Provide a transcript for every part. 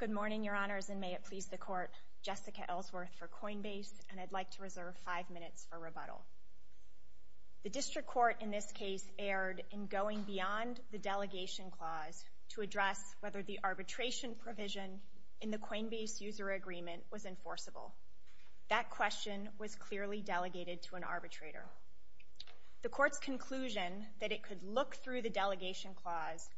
Good morning, Your Honors, and may it please the Court, Jessica Ellsworth for Coinbase, and I'd like to reserve five minutes for rebuttal. The District Court in this case erred in going beyond the Delegation Clause to address whether the arbitration provision in the Coinbase User Agreement was enforceable. That question was clearly delegated to an arbitrator. However, the Court's conclusion that it could look through the Delegation Clause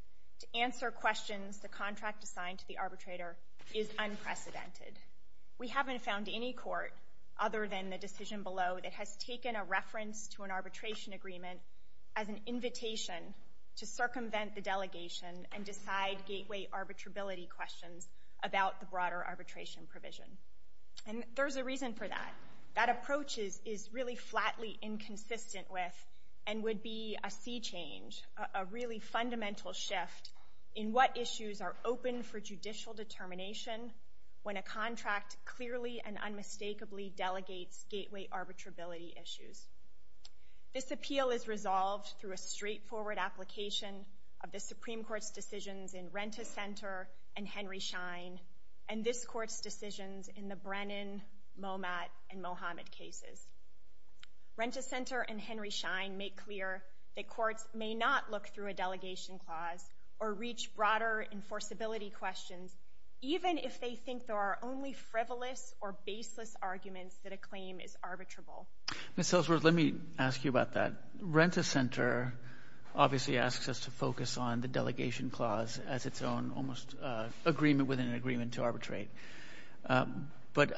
to answer questions the contract assigned to the arbitrator is unprecedented. We haven't found any court, other than the decision below, that has taken a reference to an arbitration agreement as an invitation to circumvent the delegation and decide gateway arbitrability questions about the broader arbitration provision. And there's a reason for that. That approach is really flatly inconsistent with and would be a sea change, a really fundamental shift in what issues are open for judicial determination when a contract clearly and unmistakably delegates gateway arbitrability issues. This appeal is resolved through a straightforward application of the Supreme Court's decisions in Rent-A-Center and Henry Schein and this Court's decisions in the Brennan, Momat, and Mohamed cases. Rent-A-Center and Henry Schein make clear that courts may not look through a Delegation Clause or reach broader enforceability questions, even if they think there are only frivolous or baseless arguments that a claim is arbitrable. Ms. Hillsworth, let me ask you about that. Rent-A-Center obviously asks us to focus on the Delegation Clause as its own almost agreement within an agreement to arbitrate. But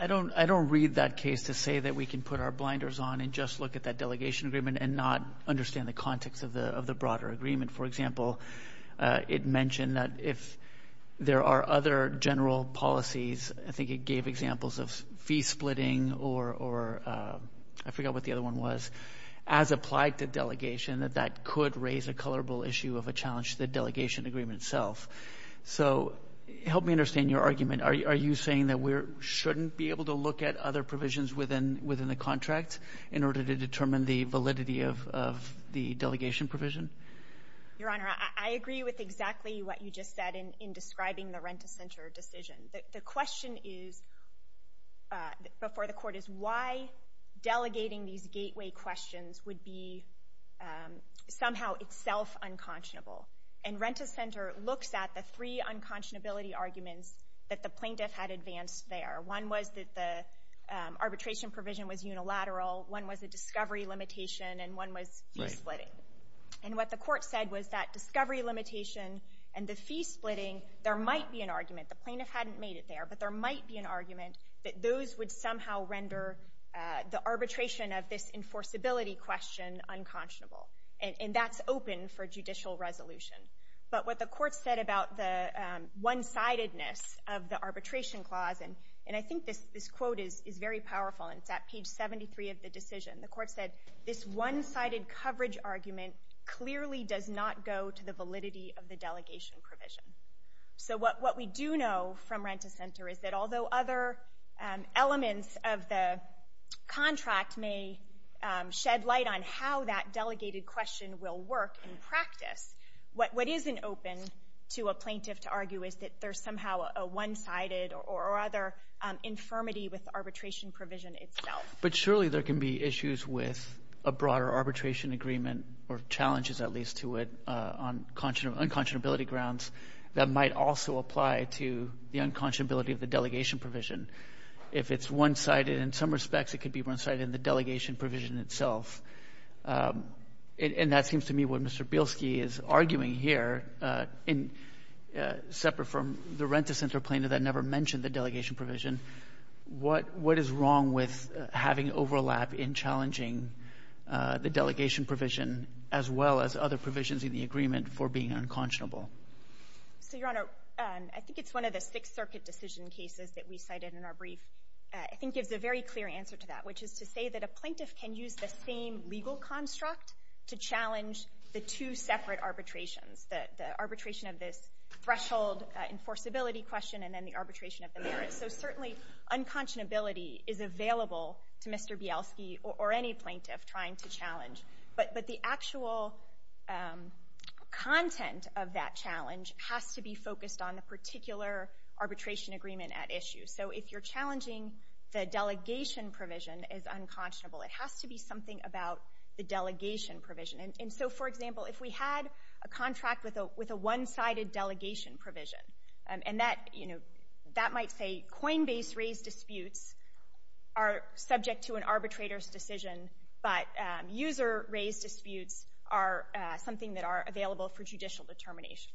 I don't read that case to say that we can put our blinders on and just look at that Delegation Agreement and not understand the context of the broader agreement. For example, it mentioned that if there are other general policies, I think it gave examples of fee splitting or, I forgot what the other one was, as applied to delegation, that that could raise a colorable issue of a challenge to the Delegation Agreement itself. So help me understand your argument. Are you saying that we shouldn't be able to look at other provisions within the contract in order to determine the validity of the delegation provision? Your Honor, I agree with exactly what you just said in describing the Rent-A-Center decision. The question is, before the Court, is why delegating these gateway questions would be somehow itself unconscionable? And Rent-A-Center looks at the three unconscionability arguments that the plaintiff had advanced there. One was that the arbitration provision was unilateral. One was a discovery limitation, and one was fee splitting. And what the Court said was that discovery limitation and the fee splitting, there might be an argument. The plaintiff hadn't made it there, but there might be an argument that those would somehow render the arbitration of this enforceability question unconscionable. And that's open for judicial resolution. But what the Court said about the one-sidedness of the arbitration clause, and I think this quote is very powerful, and it's at page 73 of the decision. The Court said, this one-sided coverage argument clearly does not go to the validity of the delegation provision. So what we do know from Rent-A-Center is that although other elements of the contract may shed light on how that delegated question will work in practice, what isn't open to a plaintiff to argue is that there's somehow a one-sided or other infirmity with the arbitration provision itself. But surely there can be issues with a broader arbitration agreement, or challenges at least to it on unconscionability grounds that might also apply to the unconscionability of the delegation provision. If it's one-sided in some respects, it could be one-sided in the delegation provision itself. And that seems to me what Mr. Bielski is arguing here, separate from the Rent-A-Center plaintiff that never mentioned the delegation provision, what is wrong with having overlap in challenging the delegation provision, as well as other provisions in the agreement for being unconscionable? So, Your Honor, I think it's one of the Sixth Circuit decision cases that we cited in our brief. I think it's a very clear answer to that, which is to say that a plaintiff can use the same legal construct to challenge the two separate arbitrations, the arbitration of this threshold enforceability question and then the arbitration of the merits. So certainly, unconscionability is available to Mr. Bielski or any plaintiff trying to challenge. But the actual content of that challenge has to be focused on the particular arbitration agreement at issue. So if you're challenging the delegation provision as unconscionable, it has to be something about the delegation provision. And so, for example, if we had a contract with a one-sided delegation provision, and that, you know, that might say coinbase-raised disputes are subject to an arbitrator's decision, but user-raised disputes are something that are available for judicial determination.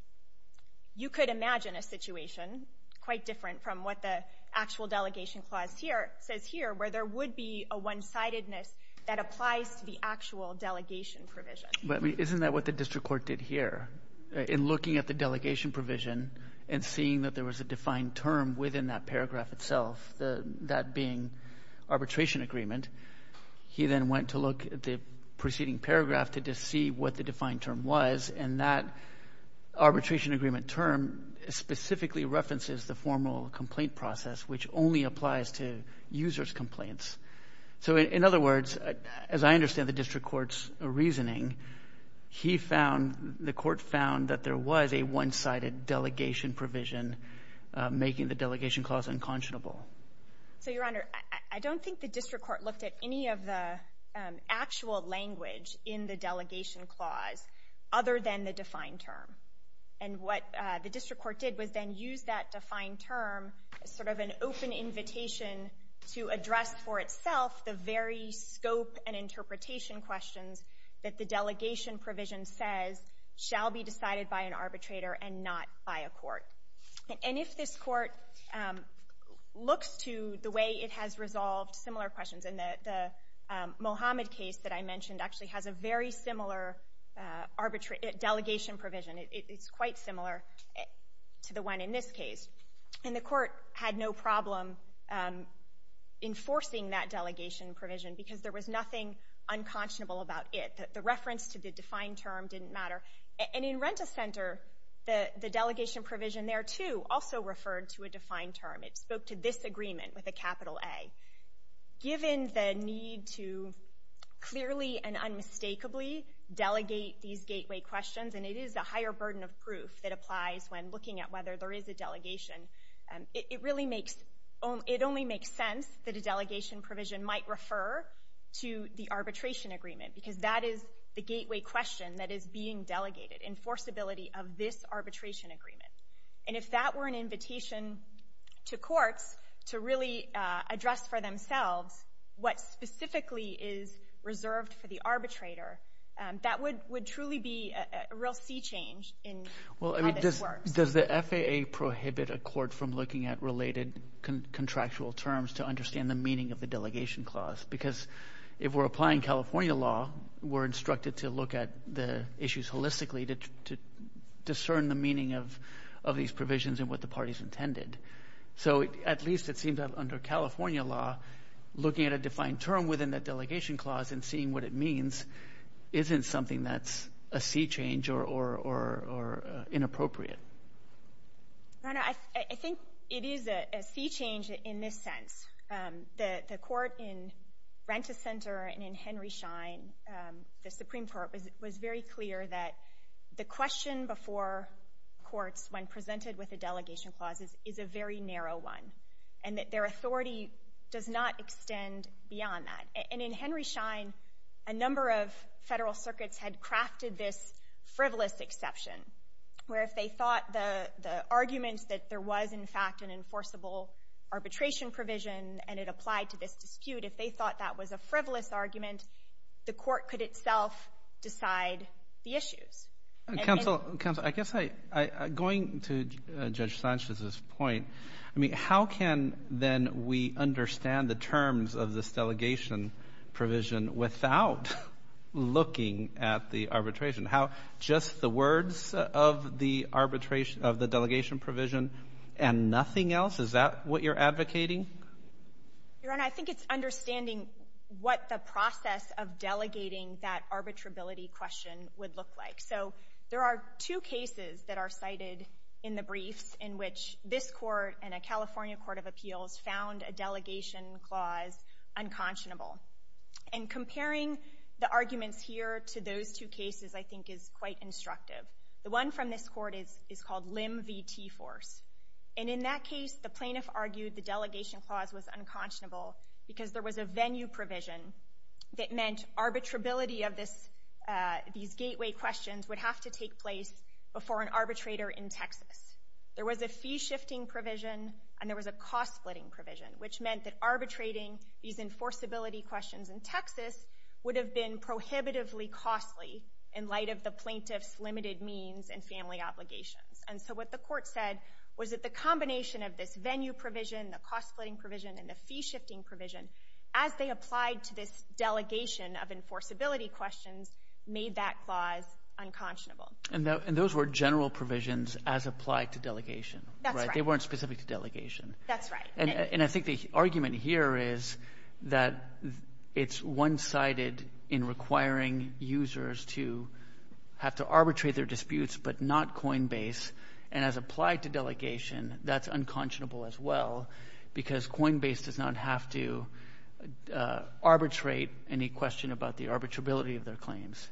You could imagine a situation quite different from what the actual delegation clause here says here, where there would be a one-sidedness that applies to the actual delegation provision. But, I mean, isn't that what the district court did here, in looking at the delegation provision and seeing that there was a defined term within that paragraph itself, that being arbitration agreement? He then went to look at the preceding paragraph to see what the defined term was, and that arbitration agreement term specifically references the formal complaint process, which only applies to user's complaints. So in other words, as I understand the district court's reasoning, he found, the court found that there was a one-sided delegation provision making the delegation clause unconscionable. So, Your Honor, I don't think the district court looked at any of the actual language in the delegation clause other than the defined term. And what the district court did was then use that defined term as sort of an open invitation to address for itself the very scope and interpretation questions that the delegation provision says shall be decided by an arbitrator and not by a court. And if this court looks to the way it has resolved similar questions, and the Mohammed case that I mentioned actually has a very similar delegation provision. It's quite similar to the one in this case. And the court had no problem enforcing that delegation provision because there was nothing unconscionable about it. The reference to the defined term didn't matter. And in Renta Center, the delegation provision there, too, also referred to a defined term. It spoke to this agreement with a capital A. Given the need to clearly and unmistakably delegate these gateway questions, and it is a higher burden of proof that applies when looking at whether there is a delegation, it really makes, it only makes sense that a delegation provision might refer to the what is the gateway question that is being delegated, enforceability of this arbitration agreement. And if that were an invitation to courts to really address for themselves what specifically is reserved for the arbitrator, that would truly be a real sea change in how this works. Well, I mean, does the FAA prohibit a court from looking at related contractual terms to understand the meaning of the delegation clause? Because if we're applying California law, we're instructed to look at the issues holistically to discern the meaning of these provisions and what the parties intended. So at least it seems that under California law, looking at a defined term within that delegation clause and seeing what it means isn't something that's a sea change or inappropriate. Your Honor, I think it is a sea change in this sense. The court in Rent-A-Center and in Henry Schein, the Supreme Court, was very clear that the question before courts when presented with a delegation clause is a very narrow one, and that their authority does not extend beyond that. And in Henry Schein, a number of federal circuits had crafted this frivolous exception, where if they thought the arguments that there was, in fact, an enforceable arbitration provision and it applied to this dispute, if they thought that was a frivolous argument, the court could itself decide the issues. Counsel, I guess going to Judge Sanchez's point, I mean, how can then we understand the terms of this delegation provision without looking at the arbitration? How just the words of the arbitration of the delegation provision and nothing else, is that what you're advocating? Your Honor, I think it's understanding what the process of delegating that arbitrability question would look like. So there are two cases that are cited in the briefs in which this Court and a California court of appeals found a delegation clause unconscionable. And comparing the arguments here to those two cases, I think, is quite instructive. The one from this Court is called Lim v. Teiforce, and in that case, the plaintiff argued the delegation clause was unconscionable because there was a venue provision that meant arbitrability of these gateway questions would have to take place before an arbitrator in Texas. There was a fee-shifting provision, and there was a cost-splitting provision, which meant that arbitrating these enforceability questions in Texas would have been prohibitively costly in light of the plaintiff's limited means and family obligations. And so what the Court said was that the combination of this venue provision, the cost-splitting provision, and the fee-shifting provision, as they applied to this delegation of enforceability questions, made that clause unconscionable. And those were general provisions as applied to delegation, right? That's right. They weren't specific to delegation. That's right. And I think the argument here is that it's one-sided in requiring users to have to arbitrate their disputes but not Coinbase, and as applied to delegation, that's unconscionable as well because Coinbase does not have to arbitrate any question about the arbitrability of their claims.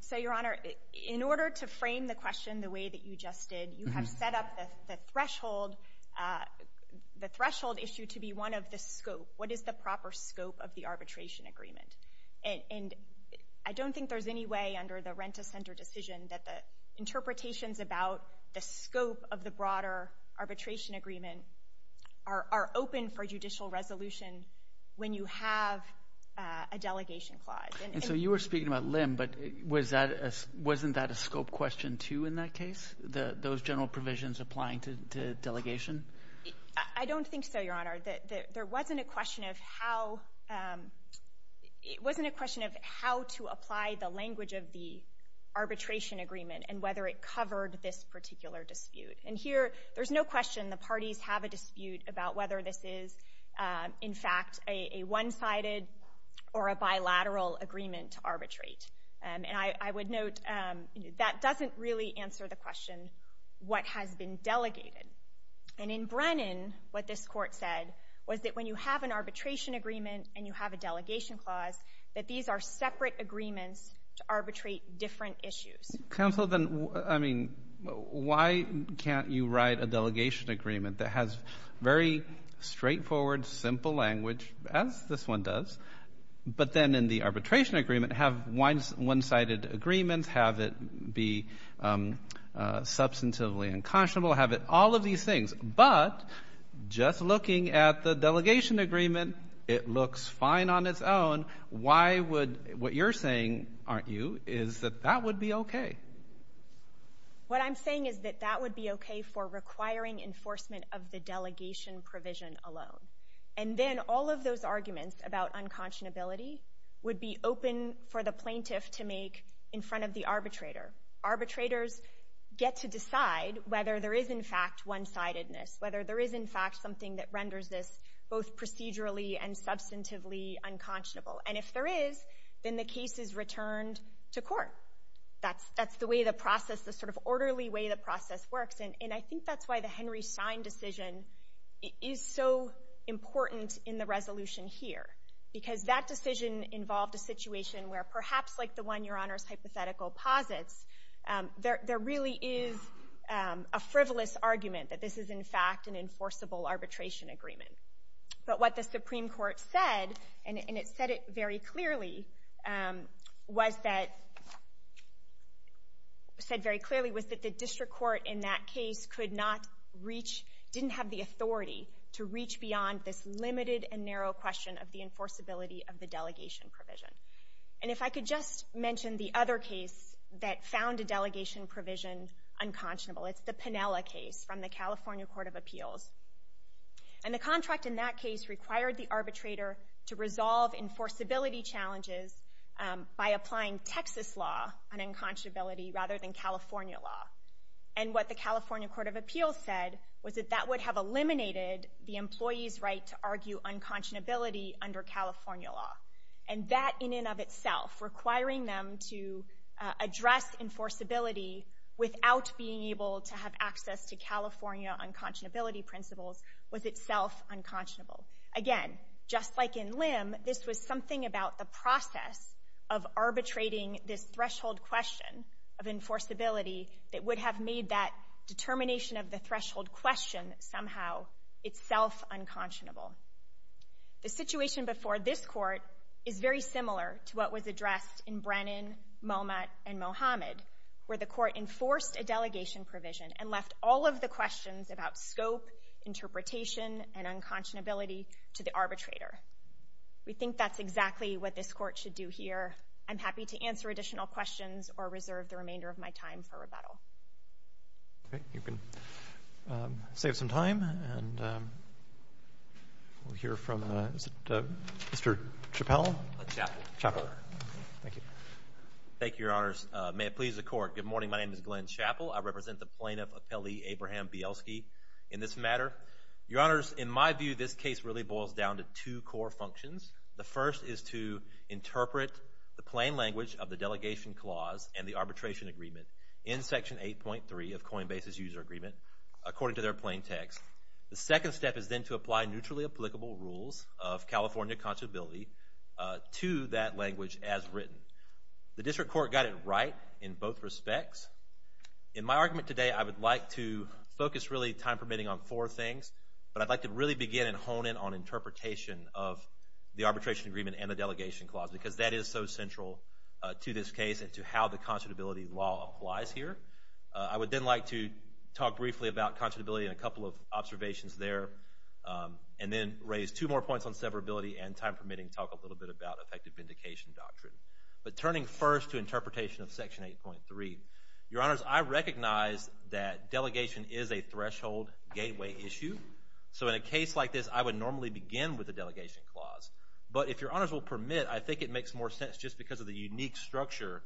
So, Your Honor, in order to frame the question the way that you just did, you have set up the threshold issue to be one of the scope. What is the proper scope of the arbitration agreement? And I don't think there's any way under the Renta Center decision that the interpretations about the scope of the broader arbitration agreement are open for judicial resolution when you have a delegation clause. And so you were speaking about LIM, but wasn't that a scope question, too, in that case? Those general provisions applying to delegation? I don't think so, Your Honor. There wasn't a question of how to apply the language of the arbitration agreement and whether it covered this particular dispute. And here, there's no question the parties have a dispute about whether this is, in fact, a one-sided or a bilateral agreement to arbitrate. And I would note that doesn't really answer the question, what has been delegated? And in Brennan, what this Court said was that when you have an arbitration agreement and you have a delegation clause, that these are separate agreements to arbitrate different issues. Counsel, then, I mean, why can't you write a delegation agreement that has very straightforward, simple language, as this one does, but then in the arbitration agreement have one-sided agreements, have it be substantively unconscionable, have it all of these things? But just looking at the delegation agreement, it looks fine on its own. Why would, what you're saying, aren't you, is that that would be okay? What I'm saying is that that would be okay for requiring enforcement of the delegation provision alone. And then all of those arguments about unconscionability would be open for the plaintiff to make in front of the arbitrator. Arbitrators get to decide whether there is, in fact, one-sidedness, whether there is, in fact, something that renders this both procedurally and substantively unconscionable. And if there is, then the case is returned to court. That's the way the process, the sort of orderly way the process works. And I think that's why the Henry Stein decision is so important in the resolution here. Because that decision involved a situation where, perhaps like the one Your Honor's hypothetical posits, there really is a frivolous argument that this is, in fact, an enforceable arbitration agreement. But what the Supreme Court said, and it said it very clearly, was that, said very clearly, was that the district court in that case could not reach, didn't have the authority to reach beyond this limited and narrow question of the enforceability of the delegation provision. And if I could just mention the other case that found a delegation provision unconscionable, it's the Piniella case from the California Court of Appeals. And the contract in that case required the arbitrator to resolve enforceability challenges by applying Texas law on unconscionability rather than California law. And what the California Court of Appeals said was that that would have eliminated the employee's right to argue unconscionability under California law. And that in and of itself, requiring them to address enforceability without being able to have access to California unconscionability principles, was itself unconscionable. Again, just like in Lim, this was something about the process of arbitrating this threshold question of enforceability that would have made that determination of the threshold question somehow itself unconscionable. The situation before this court is very similar to what was addressed in Brennan, Momat, and Mohamed, where the court enforced a delegation provision and left all of the questions about scope, interpretation, and unconscionability to the arbitrator. We think that's exactly what this court should do here. I'm happy to answer additional questions or reserve the remainder of my time for rebuttal. Okay. You can save some time and we'll hear from, is it Mr. Chappell? Chappell. Chappell. Thank you. Thank you, your honors. May it please the court. Good morning. My name is Glenn Chappell. I represent the plaintiff, Appellee Abraham Bielski, in this matter. Your honors, in my view, this case really boils down to two core functions. The first is to interpret the plain language of the delegation clause and the arbitration agreement in section 8.3 of Coinbase's user agreement according to their plain text. The second step is then to apply neutrally applicable rules of California conscionability to that language as written. The district court got it right in both respects. In my argument today, I would like to focus really, time permitting, on four things, but I'd like to really begin and hone in on interpretation of the arbitration agreement and the delegation clause because that is so central to this case and to how the conscionability law applies here. I would then like to talk briefly about conscionability and a couple of observations there, and then raise two more points on severability and, time permitting, talk a little bit about effective vindication doctrine. But turning first to interpretation of section 8.3, your honors, I recognize that delegation is a threshold gateway issue. So in a case like this, I would normally begin with the delegation clause. But if your honors will permit, I think it makes more sense, just because of the unique structure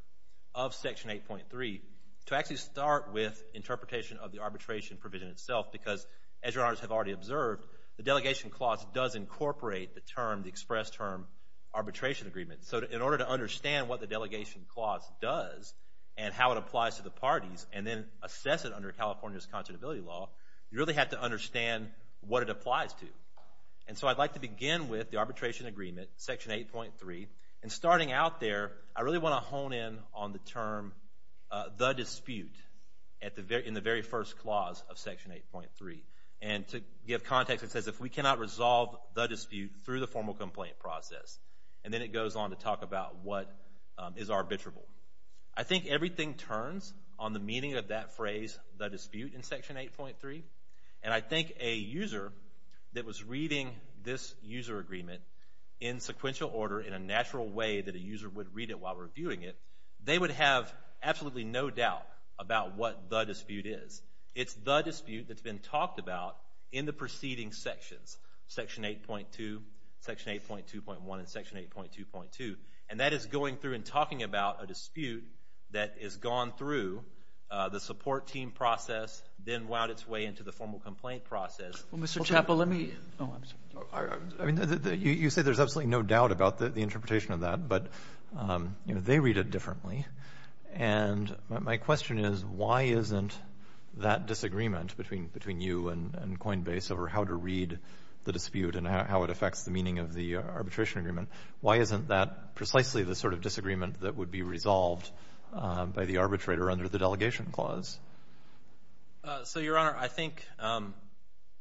of section 8.3, to actually start with interpretation of the arbitration provision itself because, as your honors have already observed, the delegation clause does incorporate the term, the express term, arbitration agreement. So in order to understand what the delegation clause does and how it applies to the parties and then assess it under California's conscionability law, you really have to understand what it applies to. And so I'd like to begin with the arbitration agreement, section 8.3. And starting out there, I really want to hone in on the term, the dispute, in the very first clause of section 8.3. And to give context, it says, if we cannot resolve the dispute through the formal complaint process. And then it goes on to talk about what is arbitrable. I think everything turns on the meaning of that phrase, the dispute, in section 8.3. And I think a user that was reading this user agreement in sequential order, in a natural way that a user would read it while reviewing it, they would have absolutely no doubt about what the dispute is. It's the dispute that's been talked about in the preceding sections, section 8.2, section 8.2.1, and section 8.2.2. And that is going through and talking about a dispute that has gone through the support team process, then wound its way into the formal complaint process. Well, Mr. Chappell, let me – oh, I'm sorry. You say there's absolutely no doubt about the interpretation of that, but they read it differently. And my question is, why isn't that disagreement between you and Coinbase over how to read the dispute and how it affects the meaning of the arbitration agreement, why isn't that precisely the sort of disagreement that would be resolved by the arbitrator under the delegation clause? So Your Honor, I think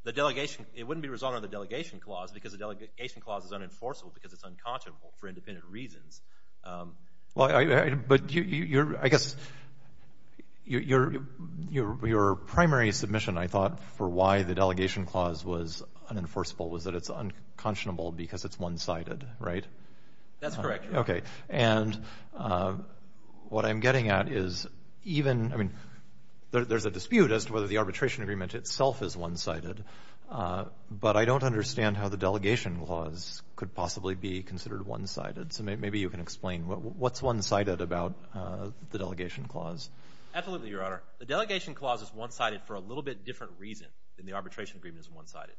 the delegation – it wouldn't be resolved under the delegation clause because the delegation clause is unenforceable because it's unconscionable for independent reasons. But I guess your primary submission, I thought, for why the delegation clause was unenforceable was that it's unconscionable because it's one-sided, right? That's correct, Your Honor. Okay. And what I'm getting at is even – I mean, there's a dispute as to whether the arbitration agreement itself is one-sided, but I don't understand how the delegation clause could possibly be considered one-sided. So maybe you can explain what's one-sided about the delegation clause. Absolutely, Your Honor. The delegation clause is one-sided for a little bit different reason than the arbitration agreement is one-sided.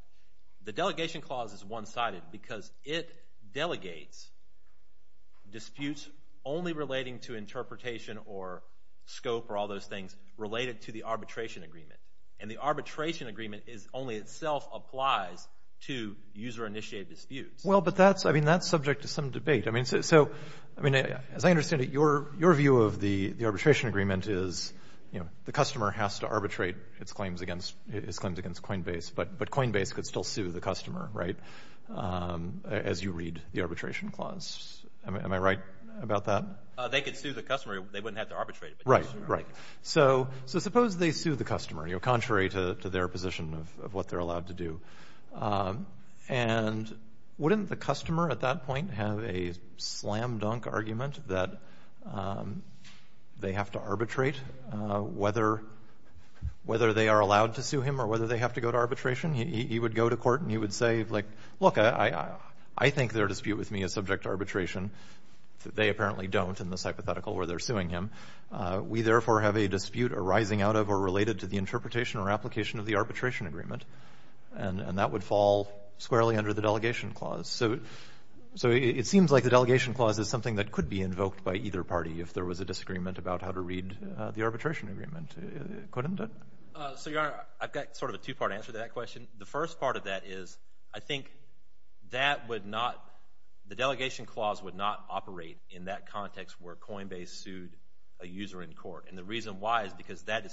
The delegation clause is one-sided because it delegates disputes only relating to interpretation or scope or all those things related to the arbitration agreement. And the arbitration agreement is – only itself applies to user-initiated disputes. Well, but that's – I mean, that's subject to some debate. I mean, so – I mean, as I understand it, your view of the arbitration agreement is, you know, the customer has to arbitrate its claims against – its claims against Coinbase, but Coinbase could still sue the customer, right, as you read the arbitration clause. Am I right about that? They could sue the customer. They wouldn't have to arbitrate it. Right, right. So suppose they sue the customer, you know, contrary to their position of what they're allowed to do, and wouldn't the customer at that point have a slam-dunk argument that they have to arbitrate, whether they are allowed to sue him or whether they have to go to arbitration? He would go to court and he would say, like, look, I think their dispute with me is subject to arbitration. They apparently don't in this hypothetical where they're suing him. We therefore have a dispute arising out of or related to the interpretation or application of the arbitration agreement, and that would fall squarely under the delegation clause. So it seems like the delegation clause is something that could be invoked by either party if there was a disagreement about how to read the arbitration agreement, couldn't it? So, Your Honor, I've got sort of a two-part answer to that question. The first part of that is I think that would not – the delegation clause would not operate in that context where Coinbase sued a user in court, and the reason why is because that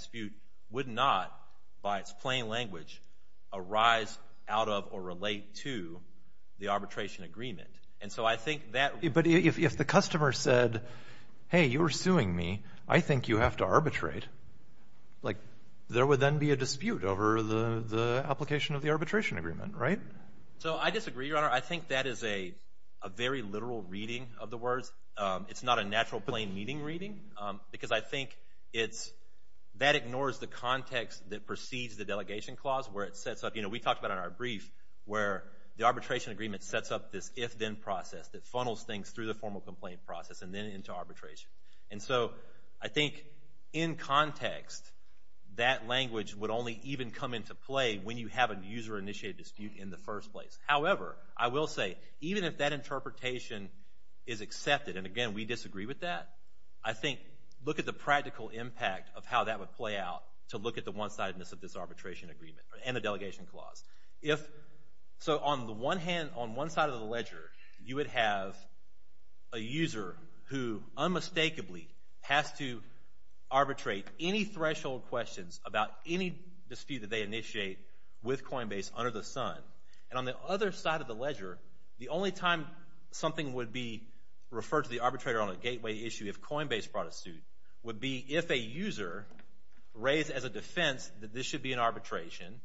And so I think that – But if the customer said, hey, you're suing me, I think you have to arbitrate, like, there would then be a dispute over the application of the arbitration agreement, right? So I disagree, Your Honor. I think that is a very literal reading of the words. It's not a natural plain meaning reading because I think it's – that ignores the context that precedes the delegation clause where it sets up – you know, we talked about it in our brief where the arbitration agreement sets up this if-then process that funnels things through the formal complaint process and then into arbitration. And so I think in context, that language would only even come into play when you have a user-initiated dispute in the first place. However, I will say, even if that interpretation is accepted, and again, we disagree with that, I think look at the practical impact of how that would play out to look at the one-sidedness of this arbitration agreement and the delegation clause. So on the one hand – on one side of the ledger, you would have a user who unmistakably has to arbitrate any threshold questions about any dispute that they initiate with Coinbase under the sun. And on the other side of the ledger, the only time something would be referred to the arbitrator on a gateway issue if Coinbase brought a suit would be if a user raised as a defense that this should be an arbitration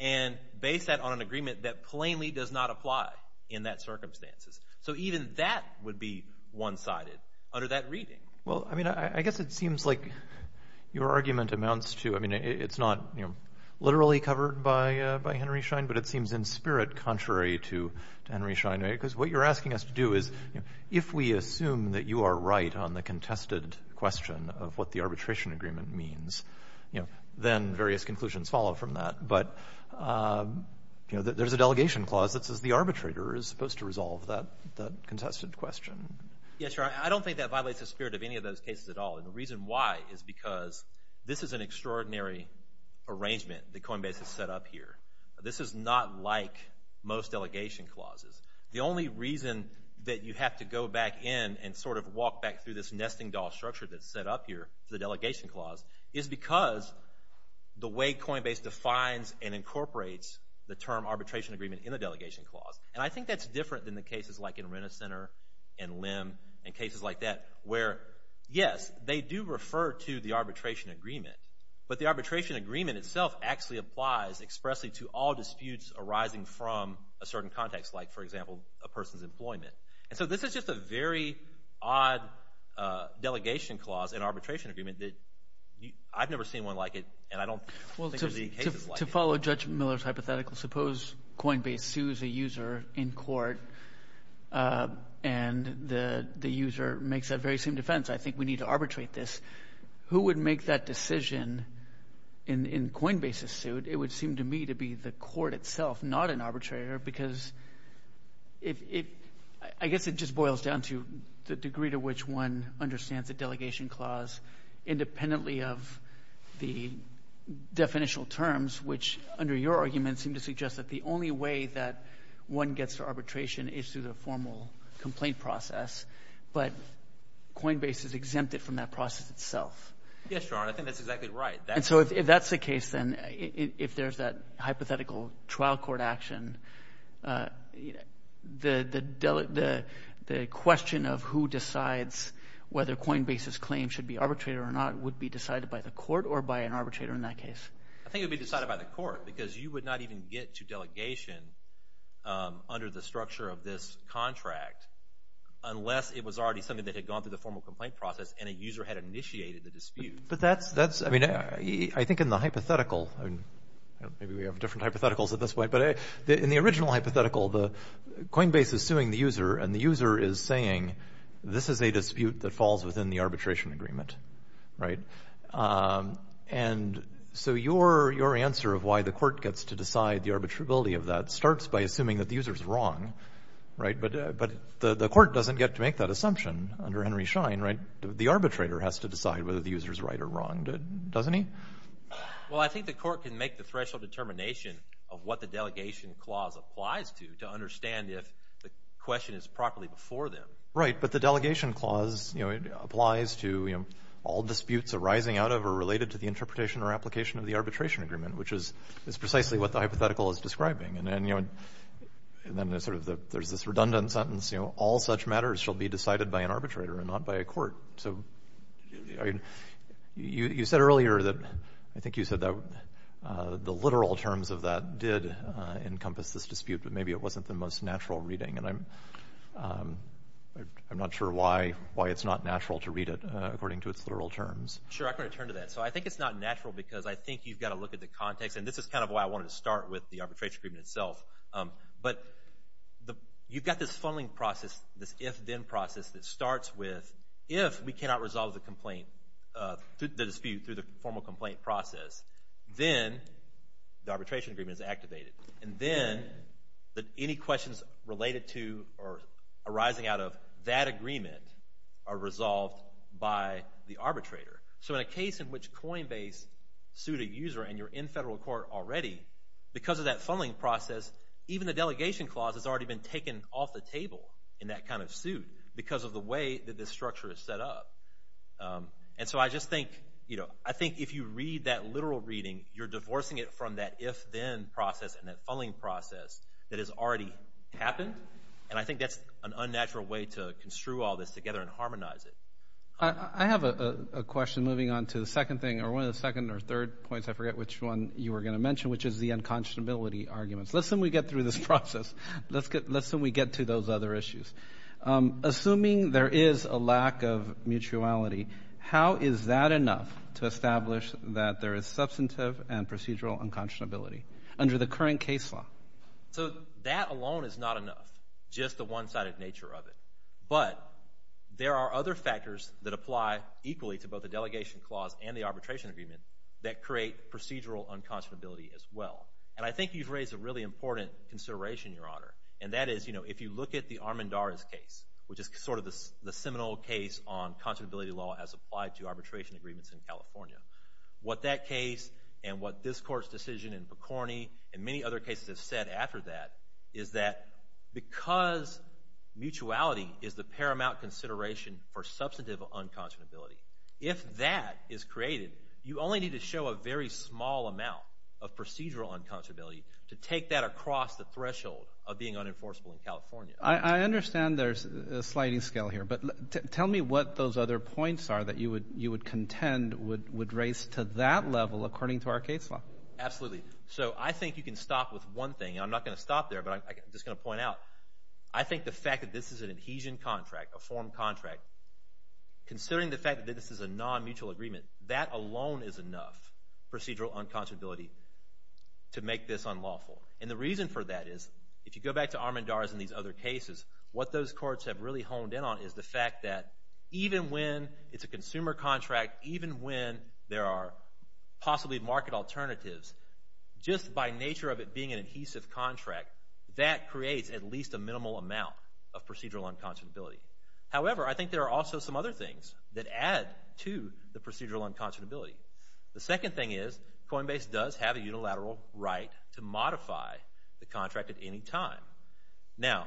and base that on an agreement that plainly does not apply in that circumstances. So even that would be one-sided under that reading. Well, I mean, I guess it seems like your argument amounts to – I mean, it's not literally covered by Henry Schein, but it seems in spirit contrary to Henry Schein, because what you're asking us to do is if we assume that you are right on the contested question of what the conclusions follow from that, but there's a delegation clause that says the arbitrator is supposed to resolve that contested question. Yeah, sure. I don't think that violates the spirit of any of those cases at all, and the reason why is because this is an extraordinary arrangement that Coinbase has set up here. This is not like most delegation clauses. The only reason that you have to go back in and sort of walk back through this nesting doll structure that's set up here, the delegation clause, is because the way Coinbase defines and incorporates the term arbitration agreement in the delegation clause, and I think that's different than the cases like in Renner Center and LIM and cases like that, where, yes, they do refer to the arbitration agreement, but the arbitration agreement itself actually applies expressly to all disputes arising from a certain context, like, for example, a person's employment. So this is just a very odd delegation clause in arbitration agreement that I've never seen one like it, and I don't think there's any cases like it. To follow Judge Miller's hypothetical, suppose Coinbase sues a user in court, and the user makes that very same defense, I think we need to arbitrate this. Who would make that decision in Coinbase's suit? It would seem to me to be the court itself, not an arbitrator, because I guess it just boils down to the degree to which one understands the delegation clause independently of the definitional terms, which, under your argument, seem to suggest that the only way that one gets to arbitration is through the formal complaint process, but Coinbase is exempted from that process itself. Yes, Your Honor. I think that's exactly right. And so if that's the case, then, if there's that hypothetical trial court action, the question of who decides whether Coinbase's claim should be arbitrated or not would be decided by the court or by an arbitrator in that case? I think it would be decided by the court, because you would not even get to delegation under the structure of this contract unless it was already something that had gone through the formal complaint process and a user had initiated the dispute. But that's, I mean, I think in the hypothetical, maybe we have different hypotheticals at this point, but in the original hypothetical, Coinbase is suing the user and the user is saying, this is a dispute that falls within the arbitration agreement, right? And so your answer of why the court gets to decide the arbitrability of that starts by assuming that the user's wrong, right? But the court doesn't get to make that assumption under Henry Schein, right? The arbitrator has to decide whether the user's right or wrong, doesn't he? Well, I think the court can make the threshold determination of what the delegation clause applies to to understand if the question is properly before them. Right, but the delegation clause applies to all disputes arising out of or related to the interpretation or application of the arbitration agreement, which is precisely what the hypothetical is describing. And then there's this redundant sentence, all such matters shall be decided by an arbitrator and not by a court. So you said earlier that, I think you said that the literal terms of that did encompass this dispute, but maybe it wasn't the most natural reading, and I'm not sure why it's not natural to read it according to its literal terms. Sure, I'm going to turn to that. So I think it's not natural because I think you've got to look at the context, and this is kind of why I wanted to start with the arbitration agreement itself. But you've got this funneling process, this if-then process that starts with if we cannot resolve the dispute through the formal complaint process, then the arbitration agreement is activated. And then any questions related to or arising out of that agreement are resolved by the arbitrator. So in a case in which Coinbase sued a user and you're in federal court already, because of that funneling process, even the delegation clause has already been taken off the table in that kind of suit because of the way that this structure is set up. And so I just think, you know, I think if you read that literal reading, you're divorcing it from that if-then process and that funneling process that has already happened. And I think that's an unnatural way to construe all this together and harmonize it. I have a question moving on to the second thing, or one of the second or third points, I forget which one you were going to mention, which is the unconscionability arguments. Let's assume we get through this process. Let's assume we get to those other issues. Assuming there is a lack of mutuality, how is that enough to establish that there is substantive and procedural unconscionability under the current case law? So that alone is not enough, just the one-sided nature of it. But there are other factors that apply equally to both the delegation clause and the arbitration agreement that create procedural unconscionability as well. And I think you've raised a really important consideration, Your Honor, and that is, you know, if you look at the Armendariz case, which is sort of the seminal case on conscionability law as applied to arbitration agreements in California, what that case and what this Court's decision in Picorni and many other cases have said after that is that because mutuality is the paramount consideration for substantive unconscionability. If that is created, you only need to show a very small amount of procedural unconscionability to take that across the threshold of being unenforceable in California. I understand there's a sliding scale here, but tell me what those other points are that you would contend would raise to that level according to our case law. Absolutely. So I think you can stop with one thing. I'm not going to stop there, but I'm just going to point out. I think the fact that this is an adhesion contract, a form contract, considering the way this is a non-mutual agreement, that alone is enough procedural unconscionability to make this unlawful. And the reason for that is, if you go back to Armendariz and these other cases, what those courts have really honed in on is the fact that even when it's a consumer contract, even when there are possibly market alternatives, just by nature of it being an adhesive contract, that creates at least a minimal amount of procedural unconscionability. However, I think there are also some other things that add to the procedural unconscionability. The second thing is Coinbase does have a unilateral right to modify the contract at any time. Now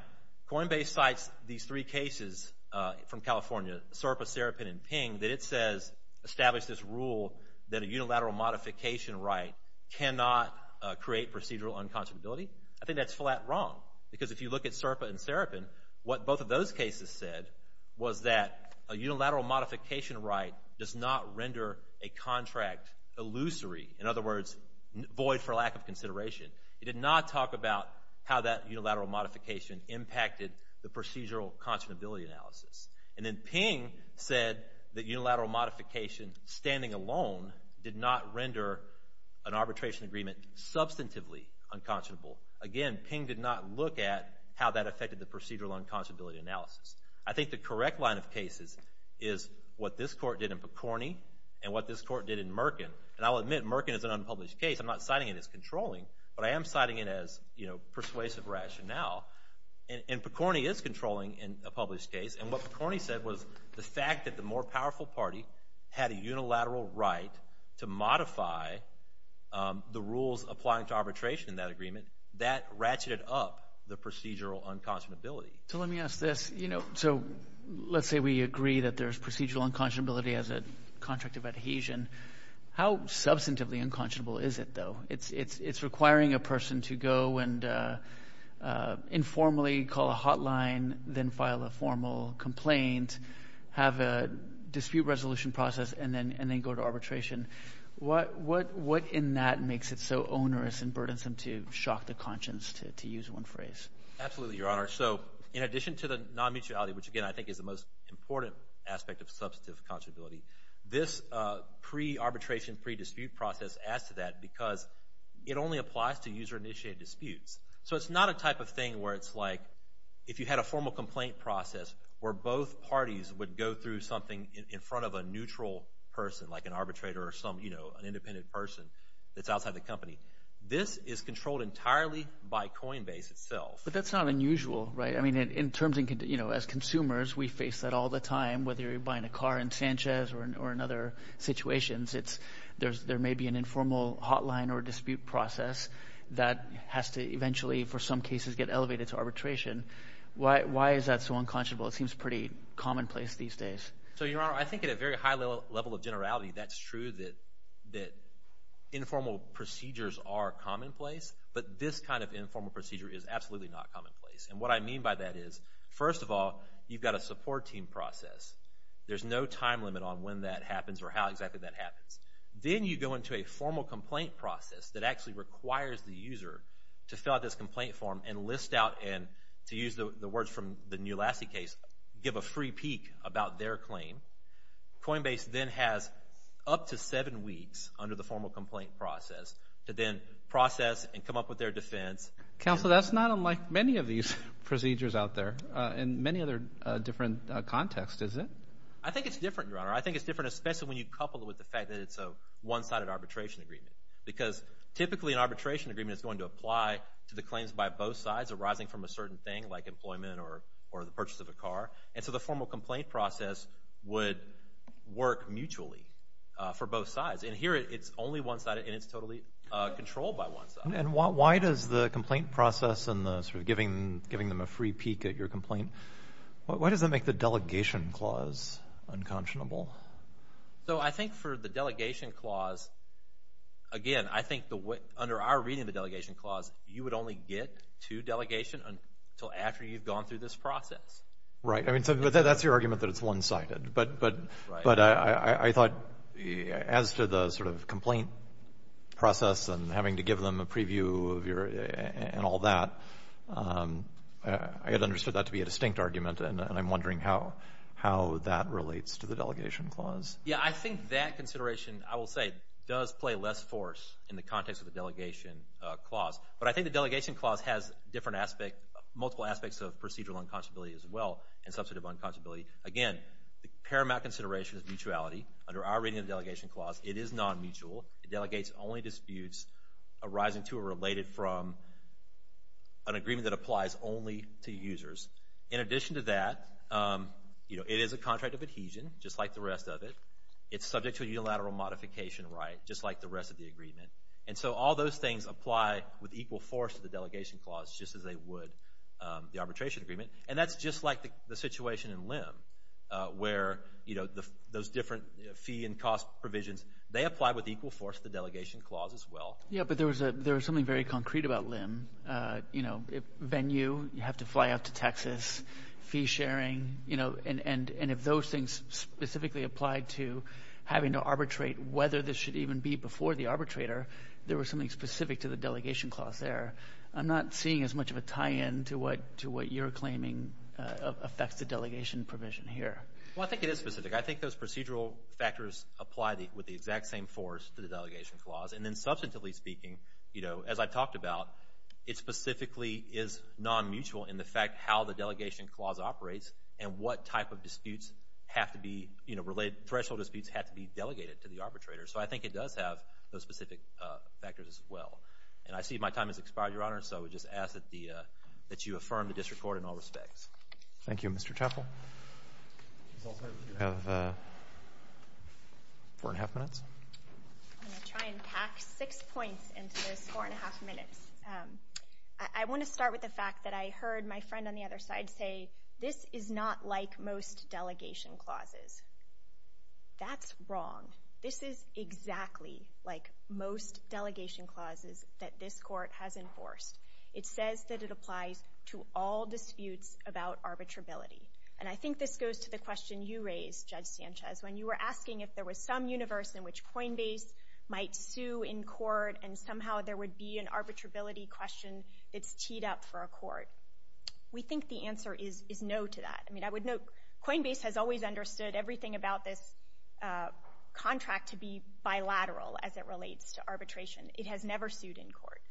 Coinbase cites these three cases from California, SERPA, Serapin, and Ping, that it says establish this rule that a unilateral modification right cannot create procedural unconscionability. I think that's flat wrong, because if you look at SERPA and Serapin, what both of those cases said was that a unilateral modification right does not render a contract illusory, in other words, void for lack of consideration. It did not talk about how that unilateral modification impacted the procedural unconscionability analysis. And then Ping said that unilateral modification standing alone did not render an arbitration agreement substantively unconscionable. Again, Ping did not look at how that affected the procedural unconscionability analysis. I think the correct line of cases is what this court did in Picorni, and what this court did in Merkin. And I'll admit, Merkin is an unpublished case, I'm not citing it as controlling, but I am citing it as persuasive rationale. And Picorni is controlling in a published case, and what Picorni said was the fact that the more powerful party had a unilateral right to modify the rules applying to arbitration in that agreement, that ratcheted up the procedural unconscionability. So let me ask this. You know, so let's say we agree that there's procedural unconscionability as a contract of adhesion. How substantively unconscionable is it, though? It's requiring a person to go and informally call a hotline, then file a formal complaint, have a dispute resolution process, and then go to arbitration. What in that makes it so onerous and burdensome to shock the conscience, to use one phrase? Absolutely, Your Honor. So in addition to the non-mutuality, which again I think is the most important aspect of substantive unconscionability, this pre-arbitration, pre-dispute process adds to that because it only applies to user-initiated disputes. So it's not a type of thing where it's like if you had a formal complaint process where both parties would go through something in front of a neutral person, like an arbitrator or some, you know, an independent person that's outside the company. This is controlled entirely by Coinbase itself. But that's not unusual, right? I mean, in terms of, you know, as consumers, we face that all the time, whether you're buying a car in Sanchez or in other situations. There may be an informal hotline or dispute process that has to eventually, for some cases, get elevated to arbitration. Why is that so unconscionable? It seems pretty commonplace these days. So Your Honor, I think at a very high level of generality, that's true that informal procedures are commonplace. But this kind of informal procedure is absolutely not commonplace. And what I mean by that is, first of all, you've got a support team process. There's no time limit on when that happens or how exactly that happens. Then you go into a formal complaint process that actually requires the user to fill out this complaint form and list out and, to use the words from the New Lassie case, give a free peek about their claim. Coinbase then has up to seven weeks under the formal complaint process to then process and come up with their defense. Counsel, that's not unlike many of these procedures out there in many other different contexts, is it? I think it's different, Your Honor. I think it's different, especially when you couple it with the fact that it's a one-sided arbitration agreement. Because typically, an arbitration agreement is going to apply to the claims by both sides arising from a certain thing, like employment or the purchase of a car. And so the formal complaint process would work mutually for both sides. And here, it's only one-sided, and it's totally controlled by one side. And why does the complaint process and the sort of giving them a free peek at your complaint, why does that make the delegation clause unconscionable? So I think for the delegation clause, again, I think under our reading of the delegation clause, you would only get to delegation until after you've gone through this process. Right. I mean, so that's your argument that it's one-sided. But I thought as to the sort of complaint process and having to give them a preview of your, and all that, I had understood that to be a distinct argument, and I'm wondering how that relates to the delegation clause. Yeah, I think that consideration, I will say, does play less force in the context of the delegation clause. But I think the delegation clause has different aspects, multiple aspects of procedural unconscionability as well, and substantive unconscionability. Again, the paramount consideration is mutuality. Under our reading of the delegation clause, it is non-mutual. It delegates only disputes arising to or related from an agreement that applies only to users. In addition to that, it is a contract of adhesion, just like the rest of it. It's subject to a unilateral modification right, just like the rest of the agreement. And so all those things apply with equal force to the delegation clause, just as they would the arbitration agreement. And that's just like the situation in LIM, where those different fee and cost provisions, they apply with equal force to the delegation clause as well. Yeah, but there was something very concrete about LIM. You know, if venue, you have to fly out to Texas, fee sharing, you know, and if those things specifically applied to having to arbitrate whether this should even be before the arbitrator, there was something specific to the delegation clause there. I'm not seeing as much of a tie-in to what you're claiming affects the delegation provision here. Well, I think it is specific. I think those procedural factors apply with the exact same force to the delegation clause. And then substantively speaking, you know, as I talked about, it specifically is non-mutual in the fact how the delegation clause operates and what type of disputes have to be, you know, threshold disputes have to be delegated to the arbitrator. So I think it does have those specific factors as well. And I see my time has expired, Your Honor, so I would just ask that you affirm the district court in all respects. Thank you. Mr. Chappell? I'm going to try and pack six points into this four-and-a-half minutes. I want to start with the fact that I heard my friend on the other side say, this is not like most delegation clauses. That's wrong. This is exactly like most delegation clauses that this court has enforced. It says that it applies to all disputes about arbitrability. And I think this goes to the question you raised, Judge Sanchez, when you were asking if there was some universe in which Coinbase might sue in court and somehow there would be an arbitrability question that's teed up for a court. We think the answer is no to that. I mean, I would note Coinbase has always understood everything about this contract to be bilateral It has never sued in court.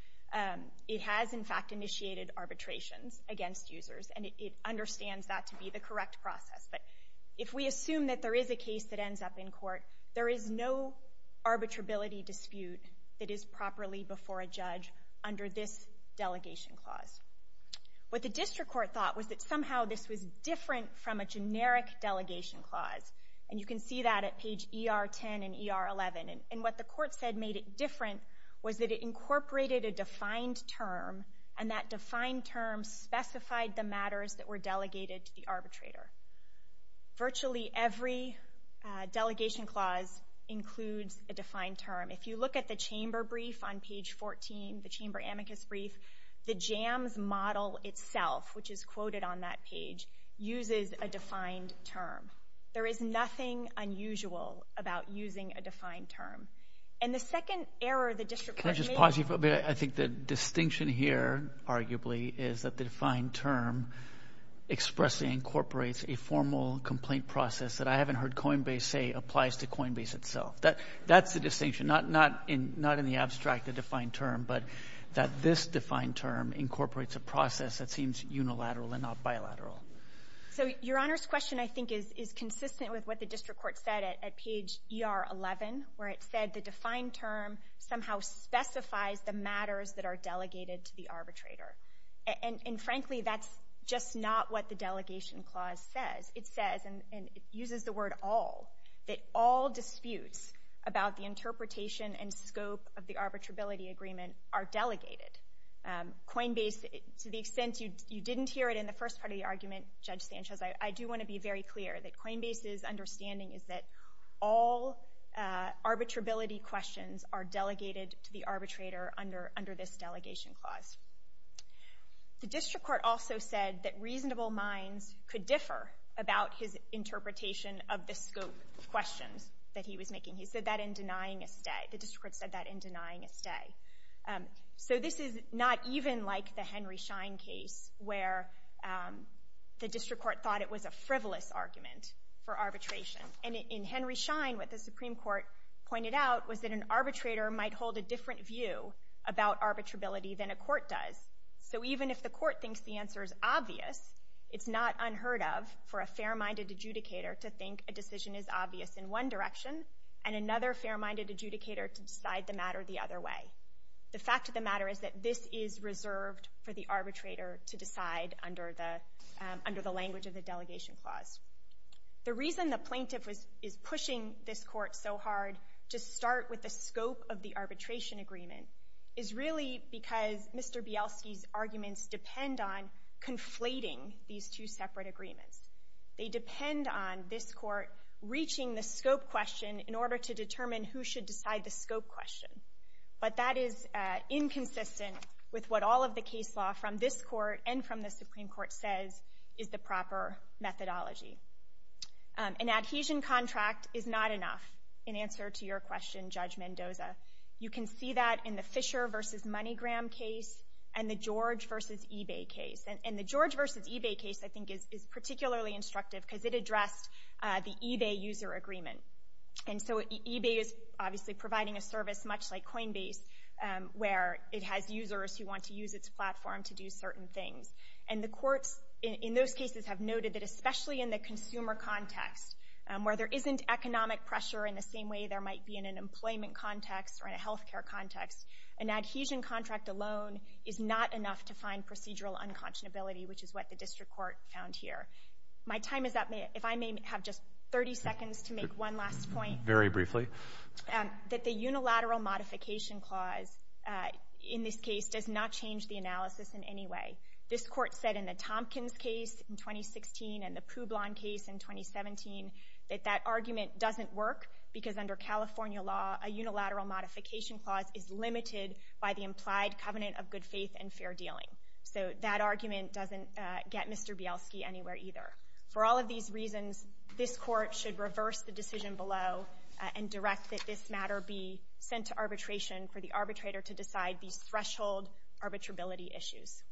It has, in fact, initiated arbitrations against users, and it understands that to be the correct process. But if we assume that there is a case that ends up in court, there is no arbitrability dispute that is properly before a judge under this delegation clause. What the district court thought was that somehow this was different from a generic delegation clause. And you can see that at page ER10 and ER11. And what the court said made it different was that it incorporated a defined term, and that defined term specified the matters that were delegated to the arbitrator. Virtually every delegation clause includes a defined term. If you look at the Chamber brief on page 14, the Chamber amicus brief, the JAMS model itself, which is quoted on that page, uses a defined term. There is nothing unusual about using a defined term. And the second error the district court made... Can I just pause you for a minute? I think the distinction here, arguably, is that the defined term expressly incorporates a formal complaint process that I haven't heard Coinbase say applies to Coinbase itself. That's the distinction. Not in the abstract, the defined term, but that this defined term incorporates a process that seems unilateral and not bilateral. So Your Honor's question, I think, is consistent with what the district court said at page ER11, where it said the defined term somehow specifies the matters that are delegated to the arbitrator. And frankly, that's just not what the delegation clause says. It says, and it uses the word all, that all disputes about the interpretation and scope of the arbitrability agreement are delegated. Coinbase, to the extent you didn't hear it in the first part of the argument, Judge Sanchez, I do want to be very clear that Coinbase's understanding is that all arbitrability questions are delegated to the arbitrator under this delegation clause. The district court also said that reasonable minds could differ about his interpretation of the scope questions that he was making. He said that in denying a stay. The district court said that in denying a stay. So this is not even like the Henry Schein case, where the district court thought it was a frivolous argument for arbitration. And in Henry Schein, what the Supreme Court pointed out was that an arbitrator might hold a different view about arbitrability than a court does. So even if the court thinks the answer is obvious, it's not unheard of for a fair-minded adjudicator to think a decision is obvious in one direction and another fair-minded adjudicator to decide the matter the other way. The fact of the matter is that this is reserved for the arbitrator to decide under the language of the delegation clause. The reason the plaintiff is pushing this court so hard to start with the scope of the arbitration agreement is really because Mr. Bielski's arguments depend on conflating these two separate agreements. They depend on this court reaching the scope question in order to determine who should decide the scope question. But that is inconsistent with what all of the case law from this court and from the Supreme Court says is the proper methodology. An adhesion contract is not enough in answer to your question, Judge Mendoza. You can see that in the Fisher v. MoneyGram case and the George v. eBay case. And the George v. eBay case, I think, is particularly instructive because it addressed the eBay user agreement. And so eBay is obviously providing a service much like Coinbase, where it has users who want to use its platform to do certain things. And the courts in those cases have noted that especially in the consumer context, where there isn't economic pressure in the same way there might be in an employment context or in a health care context, an adhesion contract alone is not enough to find procedural unconscionability, which is what the district court found here. My time is up. If I may have just 30 seconds to make one last point. Very briefly. That the unilateral modification clause in this case does not change the analysis in any way. This court said in the Tompkins case in 2016 and the Poublon case in 2017 that that argument doesn't work because under California law, a unilateral modification clause is limited by the implied covenant of good faith and fair dealing. So that argument doesn't get Mr. Bielski anywhere either. For all of these reasons, this court should reverse the decision below and direct that this matter be sent to arbitration for the arbitrator to decide these threshold arbitrability issues.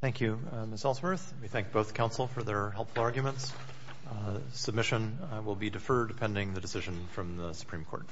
Thank you, Ms. Ellsworth. We thank both counsel for their helpful arguments. Submission will be deferred pending the decision from the Supreme Court.